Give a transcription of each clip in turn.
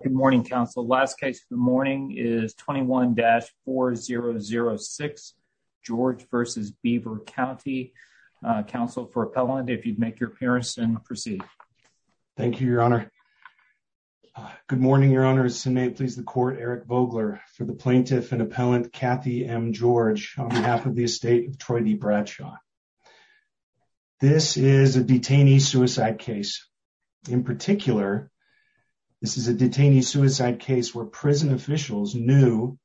Good morning, Council. Last case of the morning is 21-4006, George v. Beaver County. Council, for appellant, if you'd make your appearance and proceed. Thank you, Your Honor. Good morning, Your Honor. This may please the Court. Eric Vogler, for the plaintiff and appellant, Kathy M. George, on behalf of the estate of Troy D. Bradshaw. This is a detainee suicide case. In particular, this is a detainee suicide case where prison officials knew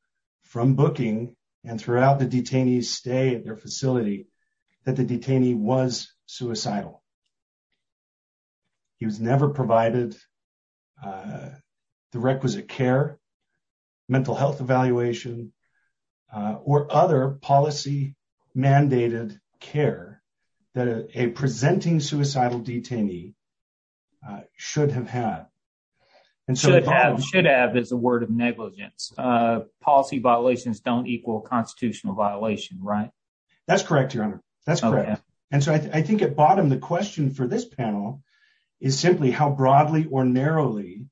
from booking and throughout the detainee's stay at their facility that the detainee was suicidal. He was never provided the requisite care, mental health evaluation, or other policy-mandated care that a presenting suicidal detainee should have had. Should have is a word of negligence. Policy violations don't equal constitutional violation, right? That's correct, Your Honor. That's correct. And so I think at bottom, the question for this panel is simply how broadly or narrowly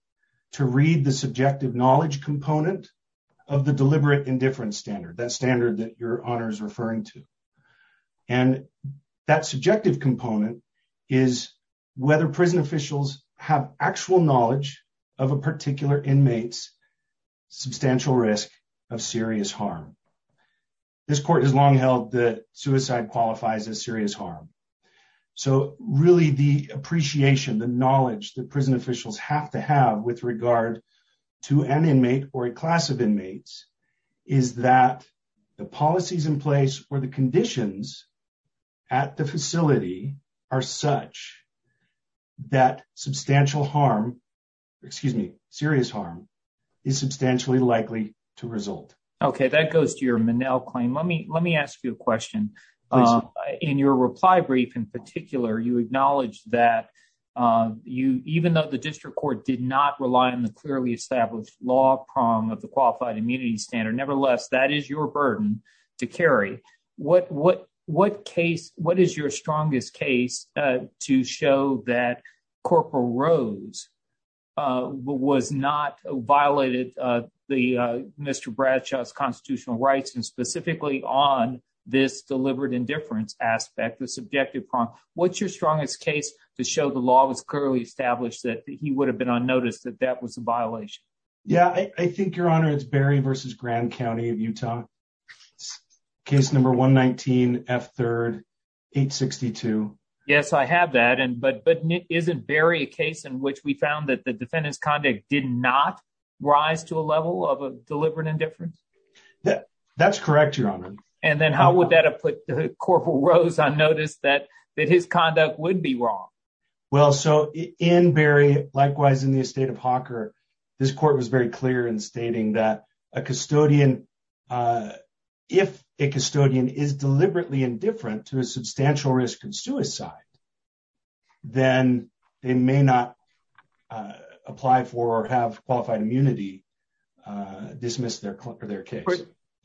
to read the subjective knowledge component of the deliberate indifference standard, that standard that Your Honor is referring to. And that subjective component is whether prison officials have actual knowledge of a particular inmate's substantial risk of serious harm. This Court has long held that suicide qualifies as serious harm. So really the appreciation, the knowledge that prison officials have to have with regard to an inmate or a class of inmates is that the policies in place or the conditions at the facility are such that substantial harm, excuse me, serious harm is substantially likely to result. Okay, that goes to your Minnell claim. Let me ask you a question. In your reply brief in particular, you acknowledged that even though the district court did not rely on the clearly established law prong of the qualified immunity standard, nevertheless, that is your burden to carry. What case, what is your strongest case to show that Corporal Rose was not, violated Mr. Bradshaw's constitutional rights and specifically on this deliberate indifference aspect, the subjective prong? What's your strongest case to show the law was clearly established that he would have been unnoticed, that that was a violation? Yeah, I think, Your Honor, it's Berry v. Grand County of Utah. Case number 119, F3rd, 862. Yes, I have that. But isn't Berry a case in which we found that the defendant's conduct did not rise to a level of deliberate indifference? That's correct, Your Honor. And then how would that have put Corporal Rose unnoticed that his conduct would be wrong? Well, so in Berry, likewise in the estate of Hawker, this court was very clear in stating that a custodian, if a custodian is deliberately indifferent to a substantial risk of suicide, then they may not apply for or have qualified immunity, dismiss their case.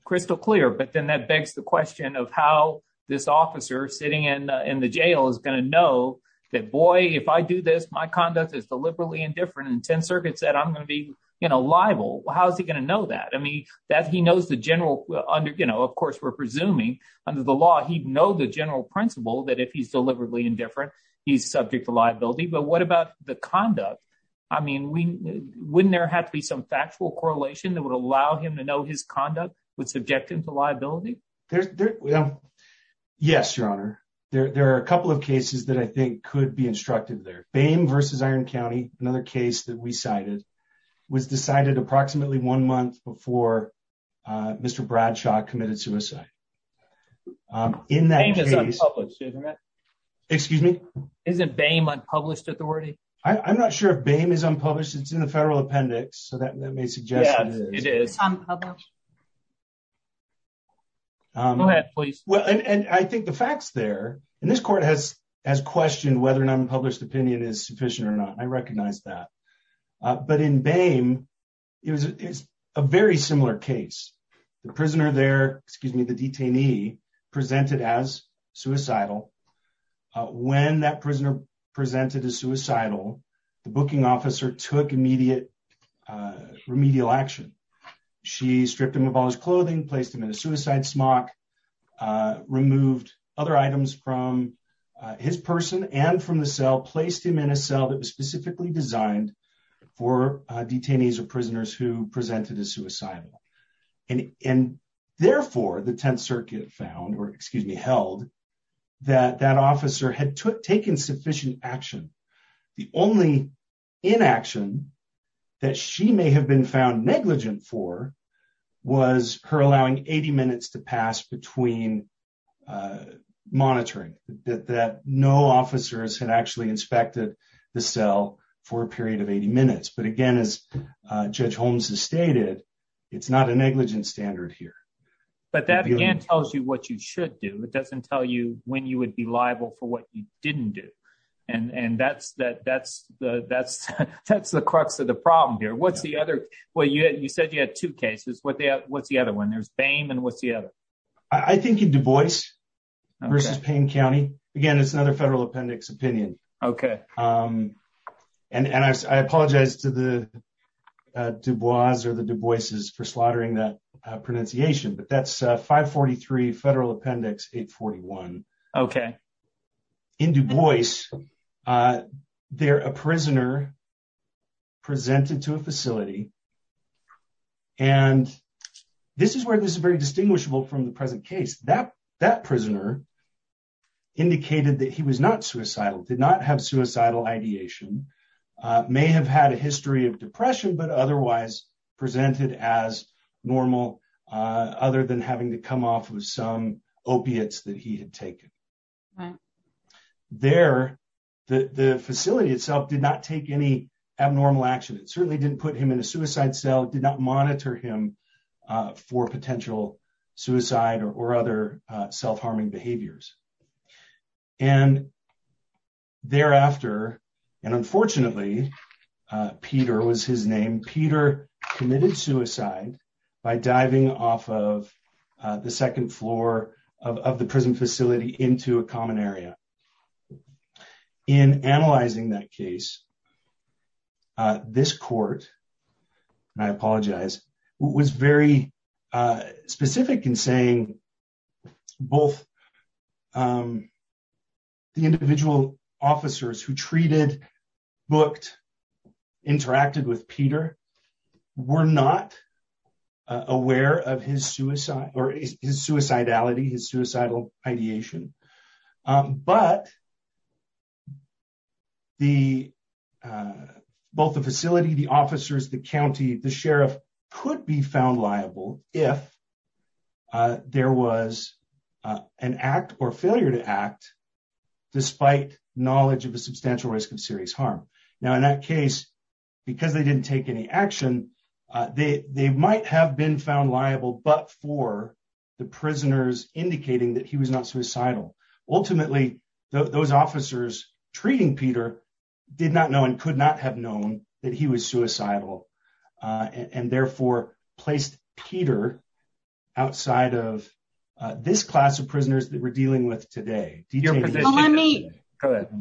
Crystal clear, but then that begs the question of how this officer sitting in the jail is going to know that, boy, if I do this, my conduct is deliberately indifferent and 10th Circuit said I'm going to be liable. How is he going to know that? I mean, that he knows the general under, you know, of course, we're presuming under the law, he'd know the general principle that if he's deliberately indifferent, he's subject to liability. But what about the conduct? I mean, wouldn't there have to be some factual correlation that would allow him to know his conduct would subject him to liability? Yes, Your Honor. There are a couple of cases that I think could be instructed there. Bame versus Iron County, another case that we cited, was decided approximately one month before Mr. Bradshaw committed suicide. In that case, excuse me, isn't Bame unpublished authority? I'm not sure if Bame is unpublished. It's in the federal appendix. So that may suggest it is. Go ahead, please. Well, and I think the facts there in this court has has questioned whether an unpublished opinion is sufficient or not. I recognize that. But in Bame, it was a very similar case. The prisoner there, excuse me, the detainee presented as suicidal. When that prisoner presented as suicidal, the booking officer took immediate remedial action. She stripped him of all his clothing, placed him in a suicide smock, removed other items from his person and from the cell, placed him in a cell that was specifically designed for detainees or prisoners who presented as suicidal. And therefore, the Tenth Circuit found or excuse me, held that that officer had taken sufficient action. The only inaction that she may have been found negligent for was her allowing 80 minutes to pass between monitoring that no officers had actually inspected the cell for a period of 80 minutes. But again, as Judge Holmes has stated, it's not a negligent standard here. But that tells you what you should do. It doesn't tell you when you would be liable for what you didn't do. And that's that. That's the that's that's the crux of the problem here. What's the other way? You said you had two cases. What's the other one? There's Bame. And what's the other? I think in Du Bois versus Payne County, again, it's another federal appendix opinion. OK. And I apologize to the Du Bois or the Du Boises for slaughtering that pronunciation. But that's five. Forty three federal appendix. Eight. Forty one. OK. In Du Bois, they're a prisoner. Presented to a facility. And this is where this is very distinguishable from the present case that that prisoner indicated that he was not suicidal, did not have suicidal ideation. May have had a history of depression, but otherwise presented as normal other than having to come off with some opiates that he had taken. There, the facility itself did not take any abnormal action. It certainly didn't put him in a suicide cell, did not monitor him for potential suicide or other self harming behaviors. And thereafter, and unfortunately, Peter was his name. Peter committed suicide by diving off of the second floor of the prison facility into a common area in analyzing that case. This court, and I apologize, was very specific in saying both. The individual officers who treated booked interacted with Peter were not aware of his suicide or his suicidality, his suicidal ideation. But. The both the facility, the officers, the county, the sheriff could be found liable if there was an act or failure to act despite knowledge of a substantial risk of serious harm. Now, in that case, because they didn't take any action, they might have been found liable, but for the prisoners indicating that he was not suicidal. Ultimately, those officers treating Peter did not know and could not have known that he was suicidal and therefore placed Peter outside of this class of prisoners that we're dealing with today. Go ahead.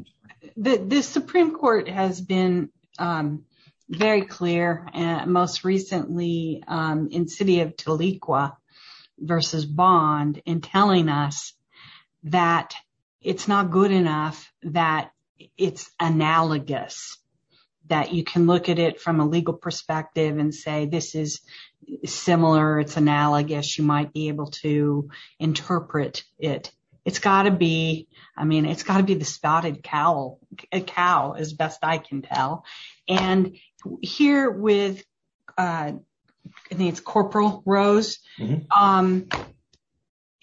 The Supreme Court has been very clear and most recently in city of Taliqa versus bond in telling us that it's not good enough that it's analogous that you can look at it from a legal perspective and say this is similar. It's analogous. You might be able to interpret it. It's got to be. I mean, it's got to be the spouted cow, a cow, as best I can tell. And here with its corporal Rose,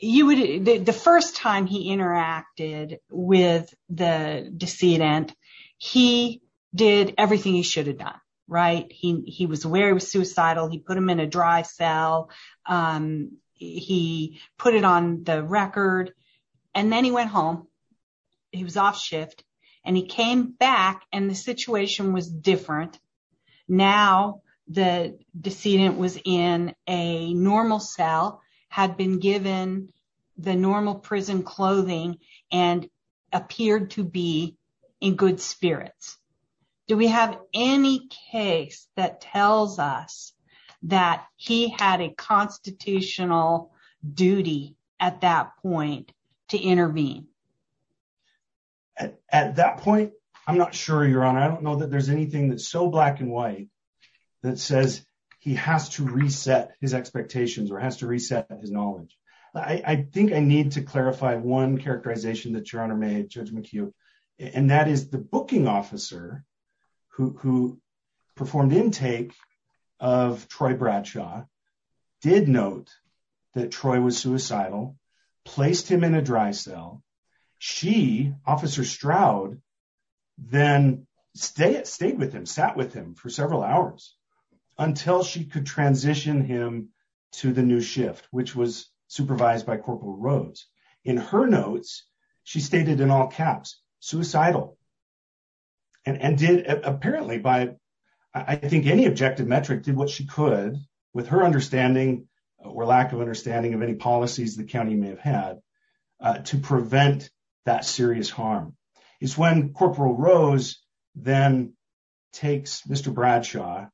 you would the first time he interacted with the decedent, he did everything he should have done. Right. He was aware he was suicidal. He put him in a dry cell. He put it on the record. And then he went home. He was off shift and he came back and the situation was different. Now, the decedent was in a normal cell had been given the normal prison clothing and appeared to be in good spirits. Do we have any case that tells us that he had a constitutional duty at that point to intervene at that point? I'm not sure you're on. I don't know that there's anything that's so black and white that says he has to reset his expectations or has to reset his knowledge. I think I need to clarify one characterization that your Honor made, Judge McHugh, and that is the booking officer who performed intake of Troy Bradshaw did note that Troy was suicidal, placed him in a dry cell. She, Officer Stroud, then stayed with him, sat with him for several hours until she could transition him to the new shift, which was supervised by Corporal Rose. In her notes, she stated in all caps suicidal. And did apparently by I think any objective metric did what she could with her understanding or lack of understanding of any policies the county may have had to prevent that serious harm is when Corporal Rose then takes Mr. Bradshaw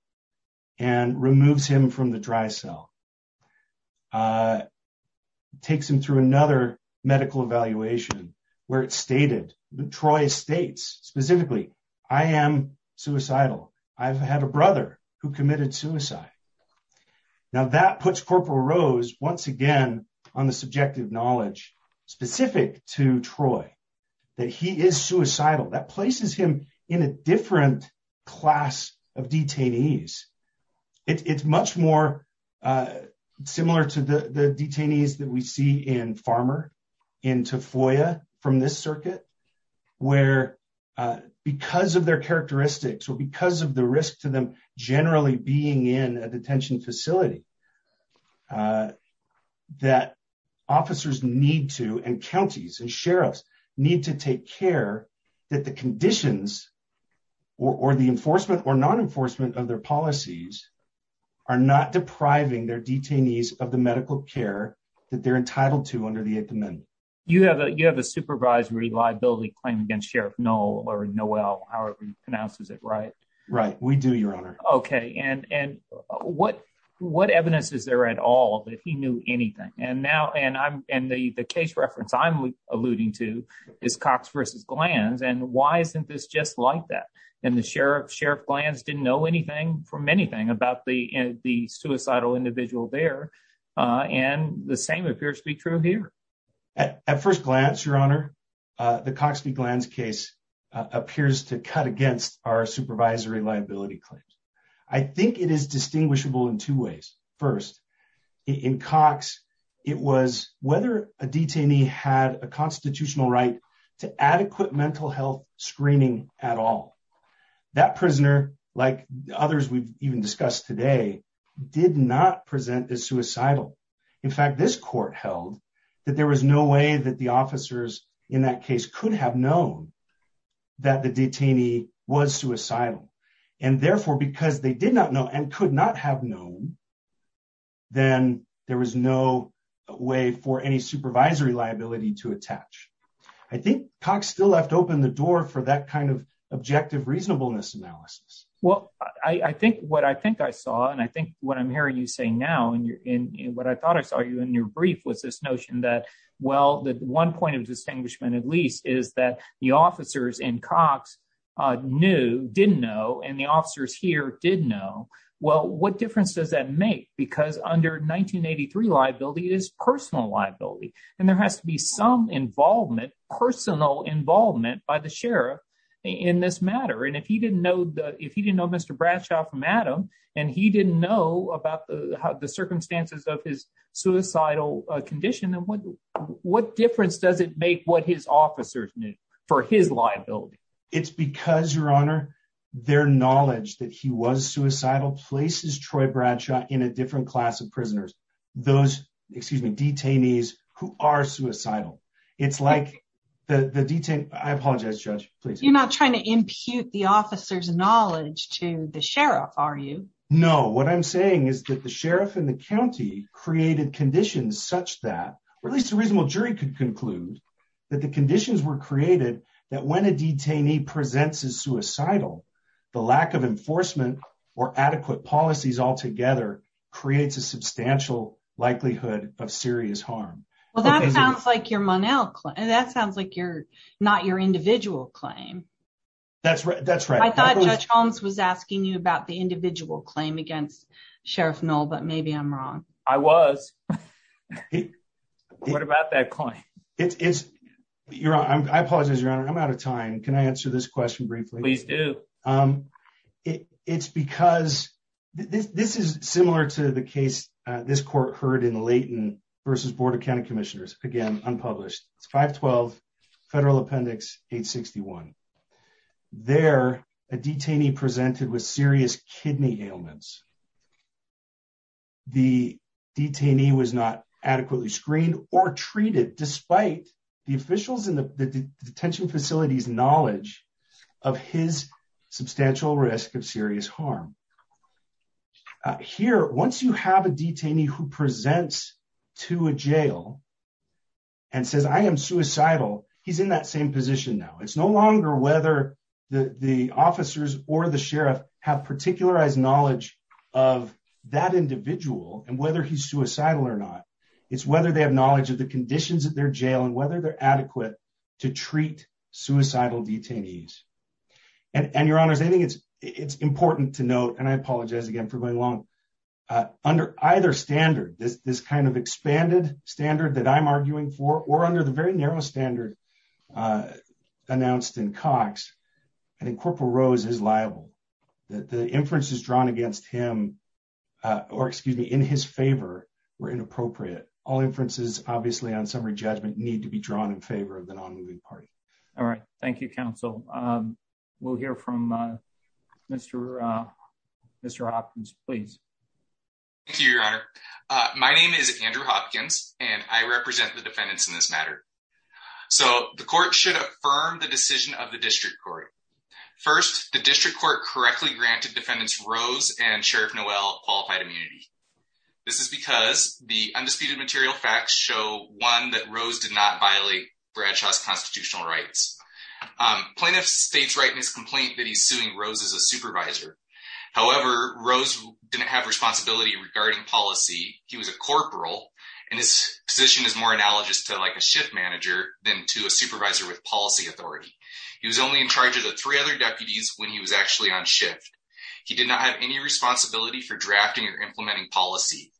and removes him from the dry cell. Takes him through another medical evaluation where it's stated Troy states specifically, I am suicidal. I've had a brother who committed suicide. Now, that puts Corporal Rose once again on the subjective knowledge specific to Troy that he is suicidal that places him in a different class of detainees. It's much more similar to the detainees that we see in Farmer, in Tafoya from this circuit, where because of their characteristics or because of the risk to them generally being in a detention facility, that officers need to and counties and sheriffs need to take care that the conditions or the enforcement or non-enforcement of their policies are not depriving their detainees of the medical care that they're entitled to under the 8th Amendment. You have a you have a supervised reliability claim against Sheriff Noel or Noel however he pronounces it, right? Right. We do, Your Honor. Okay. And and what what evidence is there at all that he knew anything and now and I'm in the case reference. I'm alluding to is Cox versus glands. And why isn't this just like that? And the Sheriff Sheriff plans didn't know anything from anything about the the suicidal individual there and the same appears to be true here at first glance. Your Honor, the Cox v. Glands case appears to cut against our supervisory liability claims. I think it is distinguishable in two ways. First, in Cox, it was whether a detainee had a constitutional right to adequate mental health screening at all. That prisoner, like others we've even discussed today, did not present as suicidal. In fact, this court held that there was no way that the officers in that case could have known that the detainee was suicidal. And therefore, because they did not know and could not have known. Then there was no way for any supervisory liability to attach. I think Cox still left open the door for that kind of objective reasonableness analysis. Well, I think what I think I saw and I think what I'm hearing you say now and what I thought I saw you in your brief was this notion that, well, the one point of distinguishment, at least, is that the officers in Cox knew didn't know. And the officers here did know. Well, what difference does that make? Because under 1983, liability is personal liability. And there has to be some involvement, personal involvement by the sheriff in this matter. And if he didn't know, if he didn't know Mr. Bradshaw from Adam and he didn't know about the circumstances of his suicidal condition, then what difference does it make what his officers knew for his liability? It's because, Your Honor, their knowledge that he was suicidal places Troy Bradshaw in a different class of prisoners, those, excuse me, detainees who are suicidal. It's like the detainee. I apologize, Judge, please. You're not trying to impute the officer's knowledge to the sheriff, are you? No. What I'm saying is that the sheriff in the county created conditions such that at least a reasonable jury could conclude that the conditions were created that when a detainee presents as suicidal, the lack of enforcement or adequate policies altogether creates a substantial likelihood of serious harm. Well, that sounds like you're not your individual claim. That's right. That's right. I thought Judge Holmes was asking you about the individual claim against Sheriff Knoll, but maybe I'm wrong. I was. What about that claim? I apologize, Your Honor, I'm out of time. Can I answer this question briefly? Please do. It's because this is similar to the case this court heard in Layton versus Board of County Commissioners. Again, unpublished. It's 512 Federal Appendix 861. There, a detainee presented with serious kidney ailments. The detainee was not adequately screened or treated, despite the officials in the detention facilities knowledge of his substantial risk of serious harm. Here, once you have a detainee who presents to a jail and says, I am suicidal, he's in that same position. Now, it's no longer whether the officers or the sheriff have particularized knowledge of that individual and whether he's suicidal or not. It's whether they have knowledge of the conditions of their jail and whether they're adequate to treat suicidal detainees. And Your Honor, I think it's important to note, and I apologize again for going along. Under either standard, this kind of expanded standard that I'm arguing for, or under the very narrow standard announced in Cox, I think Corporal Rose is liable. The inferences drawn against him or, excuse me, in his favor were inappropriate. All inferences, obviously, on summary judgment need to be drawn in favor of the non-moving party. All right, thank you, Counsel. We'll hear from Mr. Hopkins, please. Thank you, Your Honor. My name is Andrew Hopkins, and I represent the defendants in this matter. So the court should affirm the decision of the district court. First, the district court correctly granted defendants Rose and Sheriff Noel qualified immunity. This is because the undisputed material facts show, one, that Rose did not violate Bradshaw's constitutional rights. Plaintiffs states right in his complaint that he's suing Rose as a supervisor. However, Rose didn't have responsibility regarding policy. He was a corporal, and his position is more analogous to, like, a shift manager than to a supervisor with policy authority. He was only in charge of the three other deputies when he was actually on shift. He did not have any responsibility for drafting or implementing policy.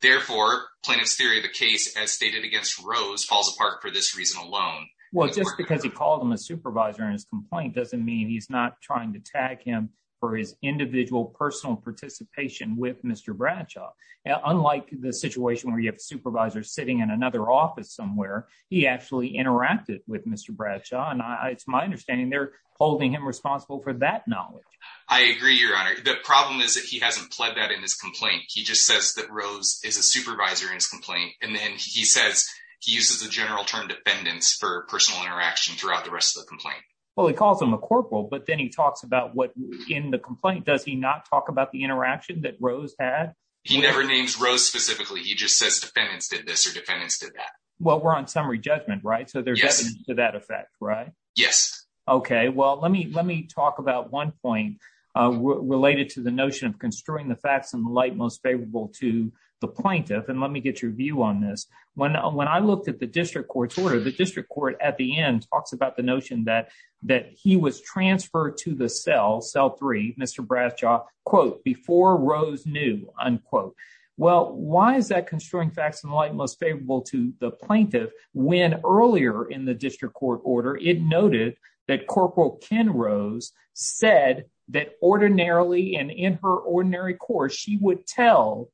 Therefore, plaintiff's theory of the case as stated against Rose falls apart for this reason alone. Well, just because he called him a supervisor in his complaint doesn't mean he's not trying to tag him for his individual personal participation with Mr. Bradshaw. Unlike the situation where you have a supervisor sitting in another office somewhere, he actually interacted with Mr. Bradshaw. And it's my understanding they're holding him responsible for that knowledge. I agree, Your Honor. The problem is that he hasn't pled that in his complaint. He just says that Rose is a supervisor in his complaint. And then he says he uses the general term defendants for personal interaction throughout the rest of the complaint. Well, he calls him a corporal, but then he talks about what in the complaint does he not talk about the interaction that Rose had? He never names Rose specifically. He just says defendants did this or defendants did that. Well, we're on summary judgment, right? So there's evidence to that effect, right? Yes. OK, well, let me let me talk about one point related to the notion of construing the facts in the light most favorable to the plaintiff. And let me get your view on this. When I looked at the district court's order, the district court at the end talks about the notion that that he was transferred to the cell cell three. Mr. Bradshaw, quote, before Rose knew, unquote. Well, why is that construing facts in the light most favorable to the plaintiff? When earlier in the district court order, it noted that Corporal Ken Rose said that ordinarily and in her ordinary course, she would tell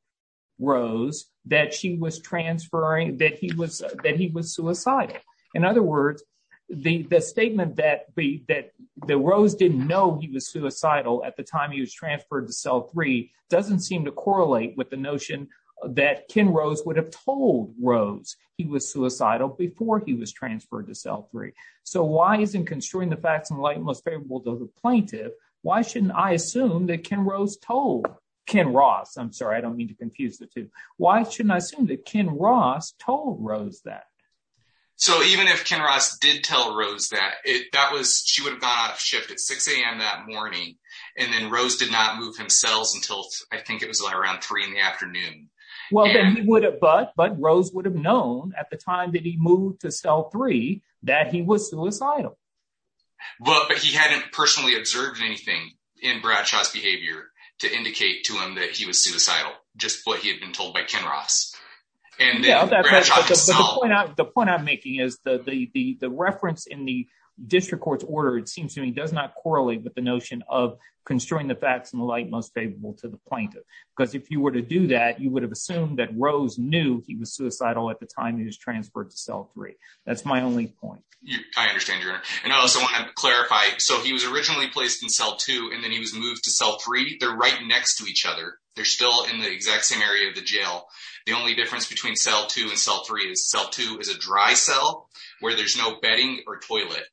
Rose that she was transferring, that he was that he was suicidal. In other words, the statement that the Rose didn't know he was suicidal at the time he was transferred to cell three doesn't seem to correlate with the notion that Ken Rose would have told Rose he was suicidal before he was transferred to cell three. So why isn't construing the facts in the light most favorable to the plaintiff? Why shouldn't I assume that Ken Rose told Ken Ross? I'm sorry, I don't mean to confuse the two. Why shouldn't I assume that Ken Ross told Rose that? So even if Ken Ross did tell Rose that it that was she would have gone out of shift at 6 a.m. that morning and then Rose did not move himself until I think it was around three in the afternoon. Well, then he would have. But but Rose would have known at the time that he moved to cell three that he was suicidal. But he hadn't personally observed anything in Bradshaw's behavior to indicate to him that he was suicidal, just what he had been told by Ken Ross. And the point I'm making is that the reference in the district court's order, it seems to me, does not correlate with the notion of construing the facts in the light most favorable to the plaintiff. Because if you were to do that, you would have assumed that Rose knew he was suicidal at the time he was transferred to cell three. That's my only point. I understand. And I also want to clarify. So he was originally placed in cell two and then he was moved to cell three. They're right next to each other. They're still in the exact same area of the jail. The only difference between cell two and cell three is cell two is a dry cell where there's no bedding or toilet.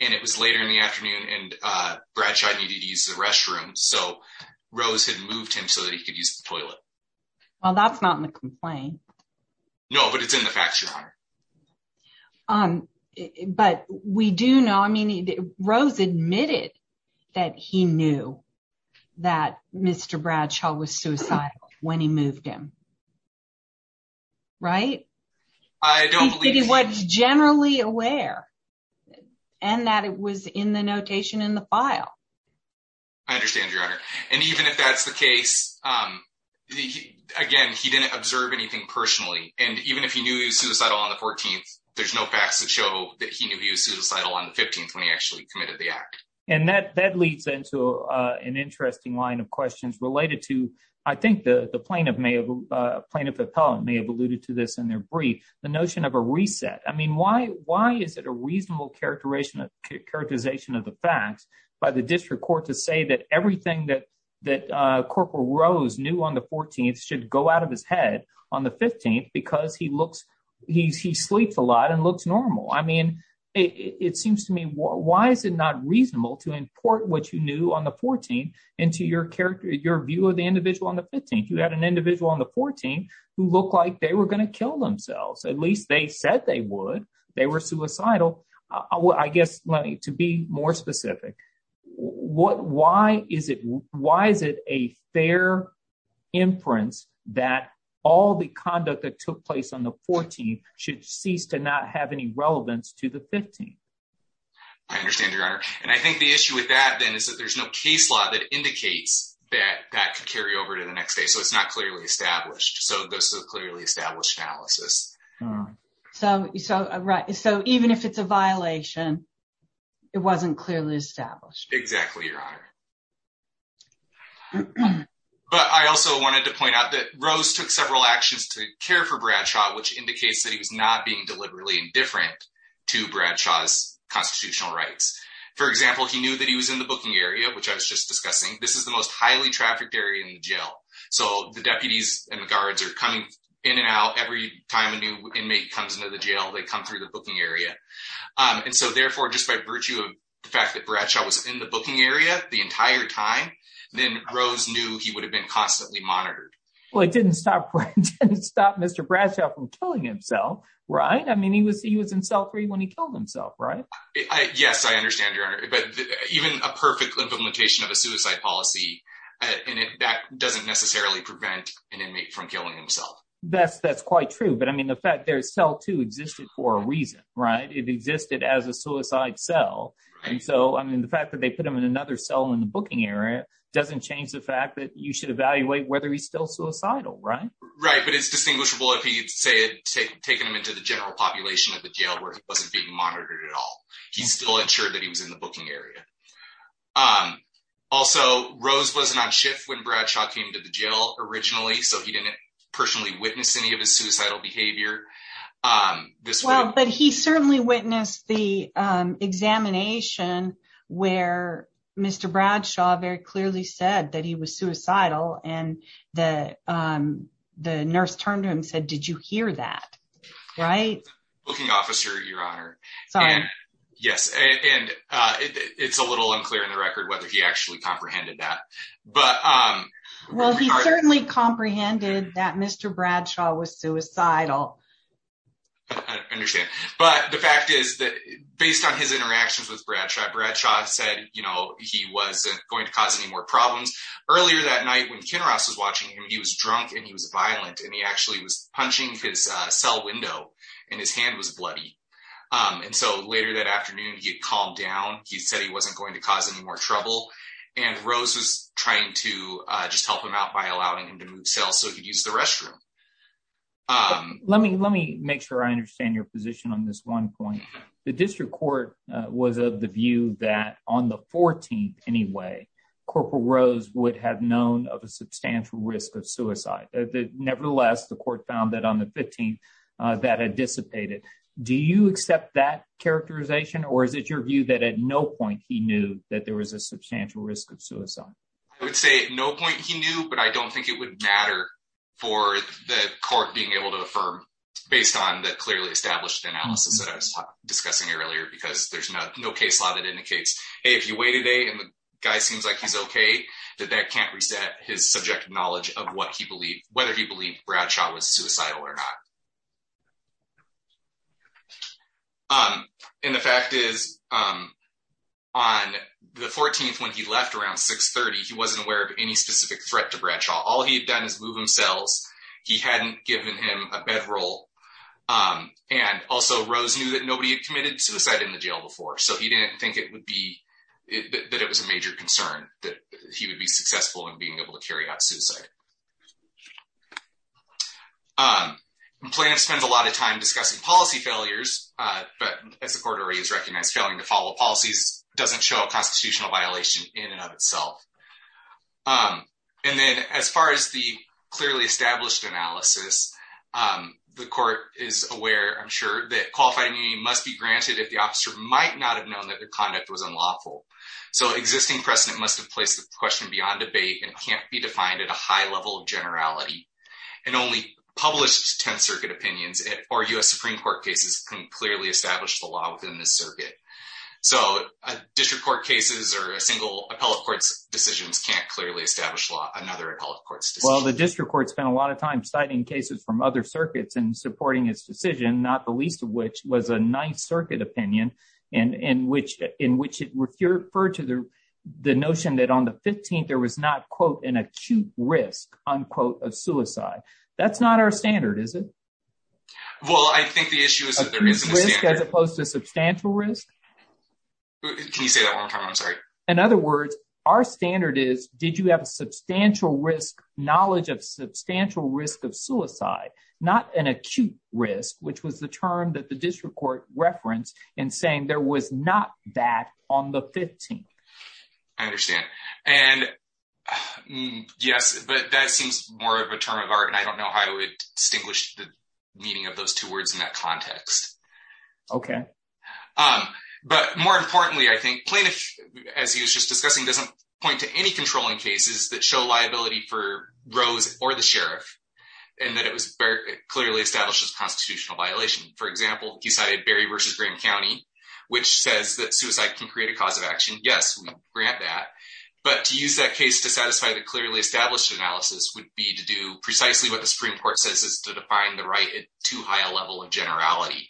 And it was later in the afternoon and Bradshaw needed to use the restroom. So Rose had moved him so that he could use the toilet. Well, that's not in the complaint. No, but it's in the facts. But we do know. I mean, Rose admitted that he knew that Mr. Bradshaw was suicidal when he moved him. Right. I don't think he was generally aware and that it was in the notation in the file. I understand, Your Honor. And even if that's the case, again, he didn't observe anything personally. And even if he knew he was suicidal on the 14th, there's no facts that show that he knew he was suicidal on the 15th when he actually committed the act. And that that leads into an interesting line of questions related to, I think the plaintiff may have alluded to this in their brief, the notion of a reset. I mean, why why is it a reasonable characterization of characterization of the facts by the district court to say that everything that that Corporal Rose knew on the 14th should go out of his head on the 15th? Because he looks he's he sleeps a lot and looks normal. I mean, it seems to me, why is it not reasonable to import what you knew on the 14th into your character, your view of the individual on the 15th? You had an individual on the 14th who looked like they were going to kill themselves. At least they said they would. They were suicidal. I guess to be more specific, what why is it why is it a fair inference that all the conduct that took place on the 14th should cease to not have any relevance to the 15th? And I think the issue with that, then, is that there's no case law that indicates that that could carry over to the next day. So it's not clearly established. So this is a clearly established analysis. So, so right. So even if it's a violation, it wasn't clearly established. But I also wanted to point out that Rose took several actions to care for Bradshaw, which indicates that he was not being deliberately indifferent to Bradshaw's constitutional rights. For example, he knew that he was in the booking area, which I was just discussing. This is the most highly trafficked area in jail. So the deputies and the guards are coming in and out. Every time a new inmate comes into the jail, they come through the booking area. And so therefore, just by virtue of the fact that Bradshaw was in the booking area the entire time, then Rose knew he would have been constantly monitored. Well, it didn't stop Mr. Bradshaw from killing himself. Right. I mean, he was he was in cell three when he killed himself. Right. Yes, I understand. But even a perfect implementation of a suicide policy, that doesn't necessarily prevent an inmate from killing himself. That's that's quite true. But, I mean, the fact there is cell two existed for a reason. Right. It existed as a suicide cell. And so, I mean, the fact that they put him in another cell in the booking area doesn't change the fact that you should evaluate whether he's still suicidal. Right. Right. But it's distinguishable if he had taken him into the general population of the jail where he wasn't being monitored at all. He still ensured that he was in the booking area. Also, Rose wasn't on shift when Bradshaw came to the jail originally. So he didn't personally witness any of his suicidal behavior. Well, but he certainly witnessed the examination where Mr. Bradshaw very clearly said that he was suicidal. And the nurse turned to him and said, did you hear that? Right. Booking officer, your honor. Yes. And it's a little unclear in the record whether he actually comprehended that. But, well, he certainly comprehended that Mr. Bradshaw was suicidal. I understand. But the fact is that based on his interactions with Bradshaw, Bradshaw said, you know, he wasn't going to cause any more problems. Earlier that night when Ken Ross was watching him, he was drunk and he was violent and he actually was punching his cell window and his hand was bloody. And so later that afternoon, he had calmed down. He said he wasn't going to cause any more trouble. And Rose was trying to just help him out by allowing him to move cells so he could use the restroom. Let me let me make sure I understand your position on this one point. The district court was of the view that on the 14th anyway, Corporal Rose would have known of a substantial risk of suicide. Nevertheless, the court found that on the 15th that had dissipated. Do you accept that characterization or is it your view that at no point he knew that there was a substantial risk of suicide? I would say no point he knew, but I don't think it would matter for the court being able to affirm based on the clearly established analysis that I was discussing earlier, because there's no case law that indicates if you wait a day and the guy seems like he's OK, that that can't reset his subjective knowledge of what he believed, whether he believed Bradshaw was suicidal or not. And the fact is, on the 14th, when he left around 630, he wasn't aware of any specific threat to Bradshaw. All he had done is move himself. He hadn't given him a bedroll. And also, Rose knew that nobody had committed suicide in the jail before, so he didn't think it would be that it was a major concern that he would be successful in being able to carry out suicide. Plaintiff spends a lot of time discussing policy failures, but as the court already has recognized, failing to follow policies doesn't show a constitutional violation in and of itself. And then as far as the clearly established analysis, the court is aware, I'm sure, that qualified immunity must be granted if the officer might not have known that their conduct was unlawful. So existing precedent must have placed the question beyond debate and can't be defined at a high level of generality. And only published 10th Circuit opinions or U.S. Supreme Court cases can clearly establish the law within the circuit. So district court cases or a single appellate court's decisions can't clearly establish law. Another appellate court's decision. Well, the district court spent a lot of time citing cases from other circuits and supporting his decision, not the least of which was a 9th Circuit opinion in which it referred to the notion that on the 15th there was not, quote, an acute risk, unquote, of suicide. That's not our standard, is it? Well, I think the issue is that there isn't a standard. Acute risk as opposed to substantial risk? Can you say that one more time? I'm sorry. In other words, our standard is, did you have a substantial risk knowledge of substantial risk of suicide, not an acute risk, which was the term that the district court referenced in saying there was not that on the 15th? I understand. And yes, but that seems more of a term of art. And I don't know how I would distinguish the meaning of those two words in that context. OK. But more importantly, I think plaintiff, as he was just discussing, doesn't point to any controlling cases that show liability for Rose or the sheriff and that it clearly establishes constitutional violation. For example, he cited Berry v. Graham County, which says that suicide can create a cause of action. Yes, we grant that. But to use that case to satisfy the clearly established analysis would be to do precisely what the Supreme Court says is to define the right at too high a level of generality.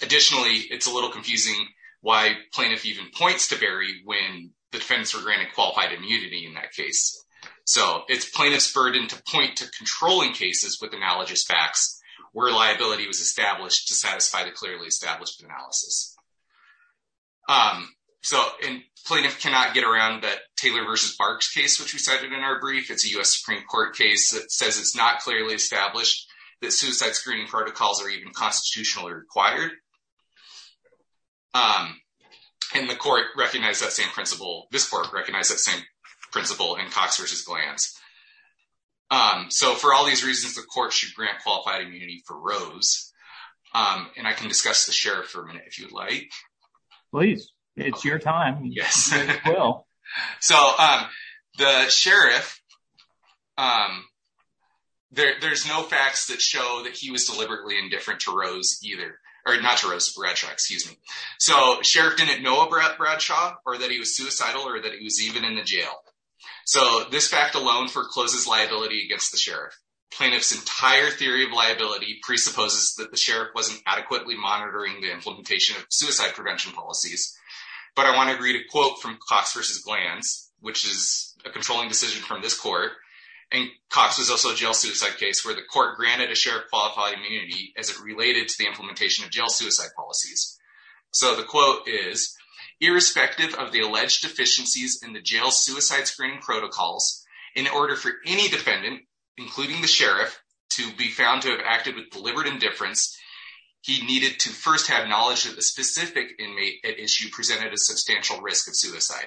Additionally, it's a little confusing why plaintiff even points to Berry when the defendants were granted qualified immunity in that case. So it's plaintiff's burden to point to controlling cases with analogous facts where liability was established to satisfy the clearly established analysis. So plaintiff cannot get around that Taylor v. Barks case, which we cited in our brief. It's a U.S. Supreme Court case that says it's not clearly established that suicide screening protocols are even constitutionally required. And the court recognized that same principle. This court recognized that same principle in Cox v. Glantz. So for all these reasons, the court should grant qualified immunity for Rose. And I can discuss the sheriff for a minute, if you'd like. Please. It's your time. Yes. So the sheriff, there's no facts that show that he was deliberately indifferent to Rose either. Or not to Rose, Bradshaw, excuse me. So sheriff didn't know about Bradshaw or that he was suicidal or that he was even in the jail. So this fact alone forecloses liability against the sheriff. Plaintiff's entire theory of liability presupposes that the sheriff wasn't adequately monitoring the implementation of suicide prevention policies. But I want to read a quote from Cox v. Glantz, which is a controlling decision from this court. And Cox was also a jail suicide case where the court granted a sheriff qualified immunity as it related to the implementation of jail suicide policies. So the quote is, irrespective of the alleged deficiencies in the jail suicide screening protocols, in order for any defendant, including the sheriff, to be found to have acted with deliberate indifference, he needed to first have knowledge that the specific inmate at issue presented a substantial risk of suicide.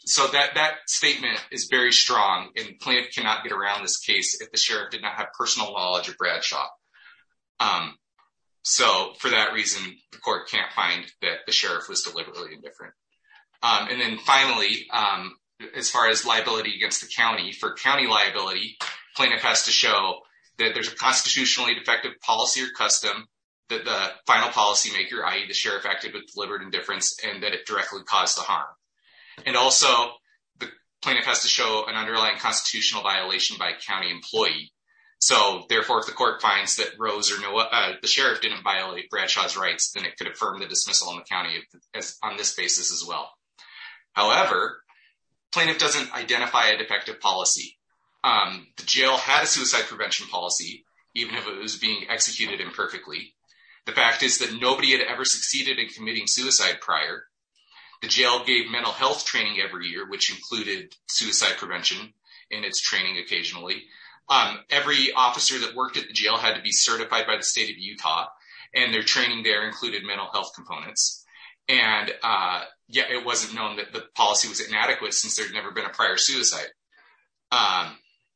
So that statement is very strong and plaintiff cannot get around this case if the sheriff did not have personal knowledge of Bradshaw. So for that reason, the court can't find that the sheriff was deliberately indifferent. And then finally, as far as liability against the county, for county liability, plaintiff has to show that there's a constitutionally defective policy or custom that the final policymaker, i.e. the sheriff, acted with deliberate indifference and that it directly caused the harm. And also the plaintiff has to show an underlying constitutional violation by a county employee. So therefore, if the court finds that the sheriff didn't violate Bradshaw's rights, then it could affirm the dismissal in the county on this basis as well. However, plaintiff doesn't identify a defective policy. The jail had a suicide prevention policy, even if it was being executed imperfectly. The fact is that nobody had ever succeeded in committing suicide prior. The jail gave mental health training every year, which included suicide prevention in its training occasionally. Every officer that worked at the jail had to be certified by the state of Utah, and their training there included mental health components. And yet it wasn't known that the policy was inadequate since there had never been a prior suicide.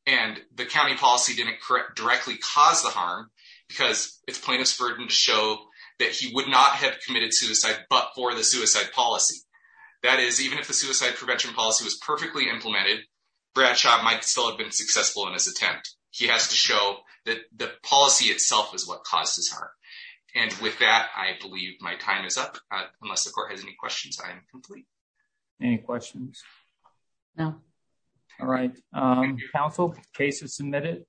And the county policy didn't directly cause the harm because it's plaintiff's burden to show that he would not have committed suicide but for the suicide policy. That is, even if the suicide prevention policy was perfectly implemented, Bradshaw might still have been successful in his attempt. He has to show that the policy itself is what caused his harm. And with that, I believe my time is up. Unless the court has any questions, I am complete. Any questions? No. All right. Counsel, case is submitted.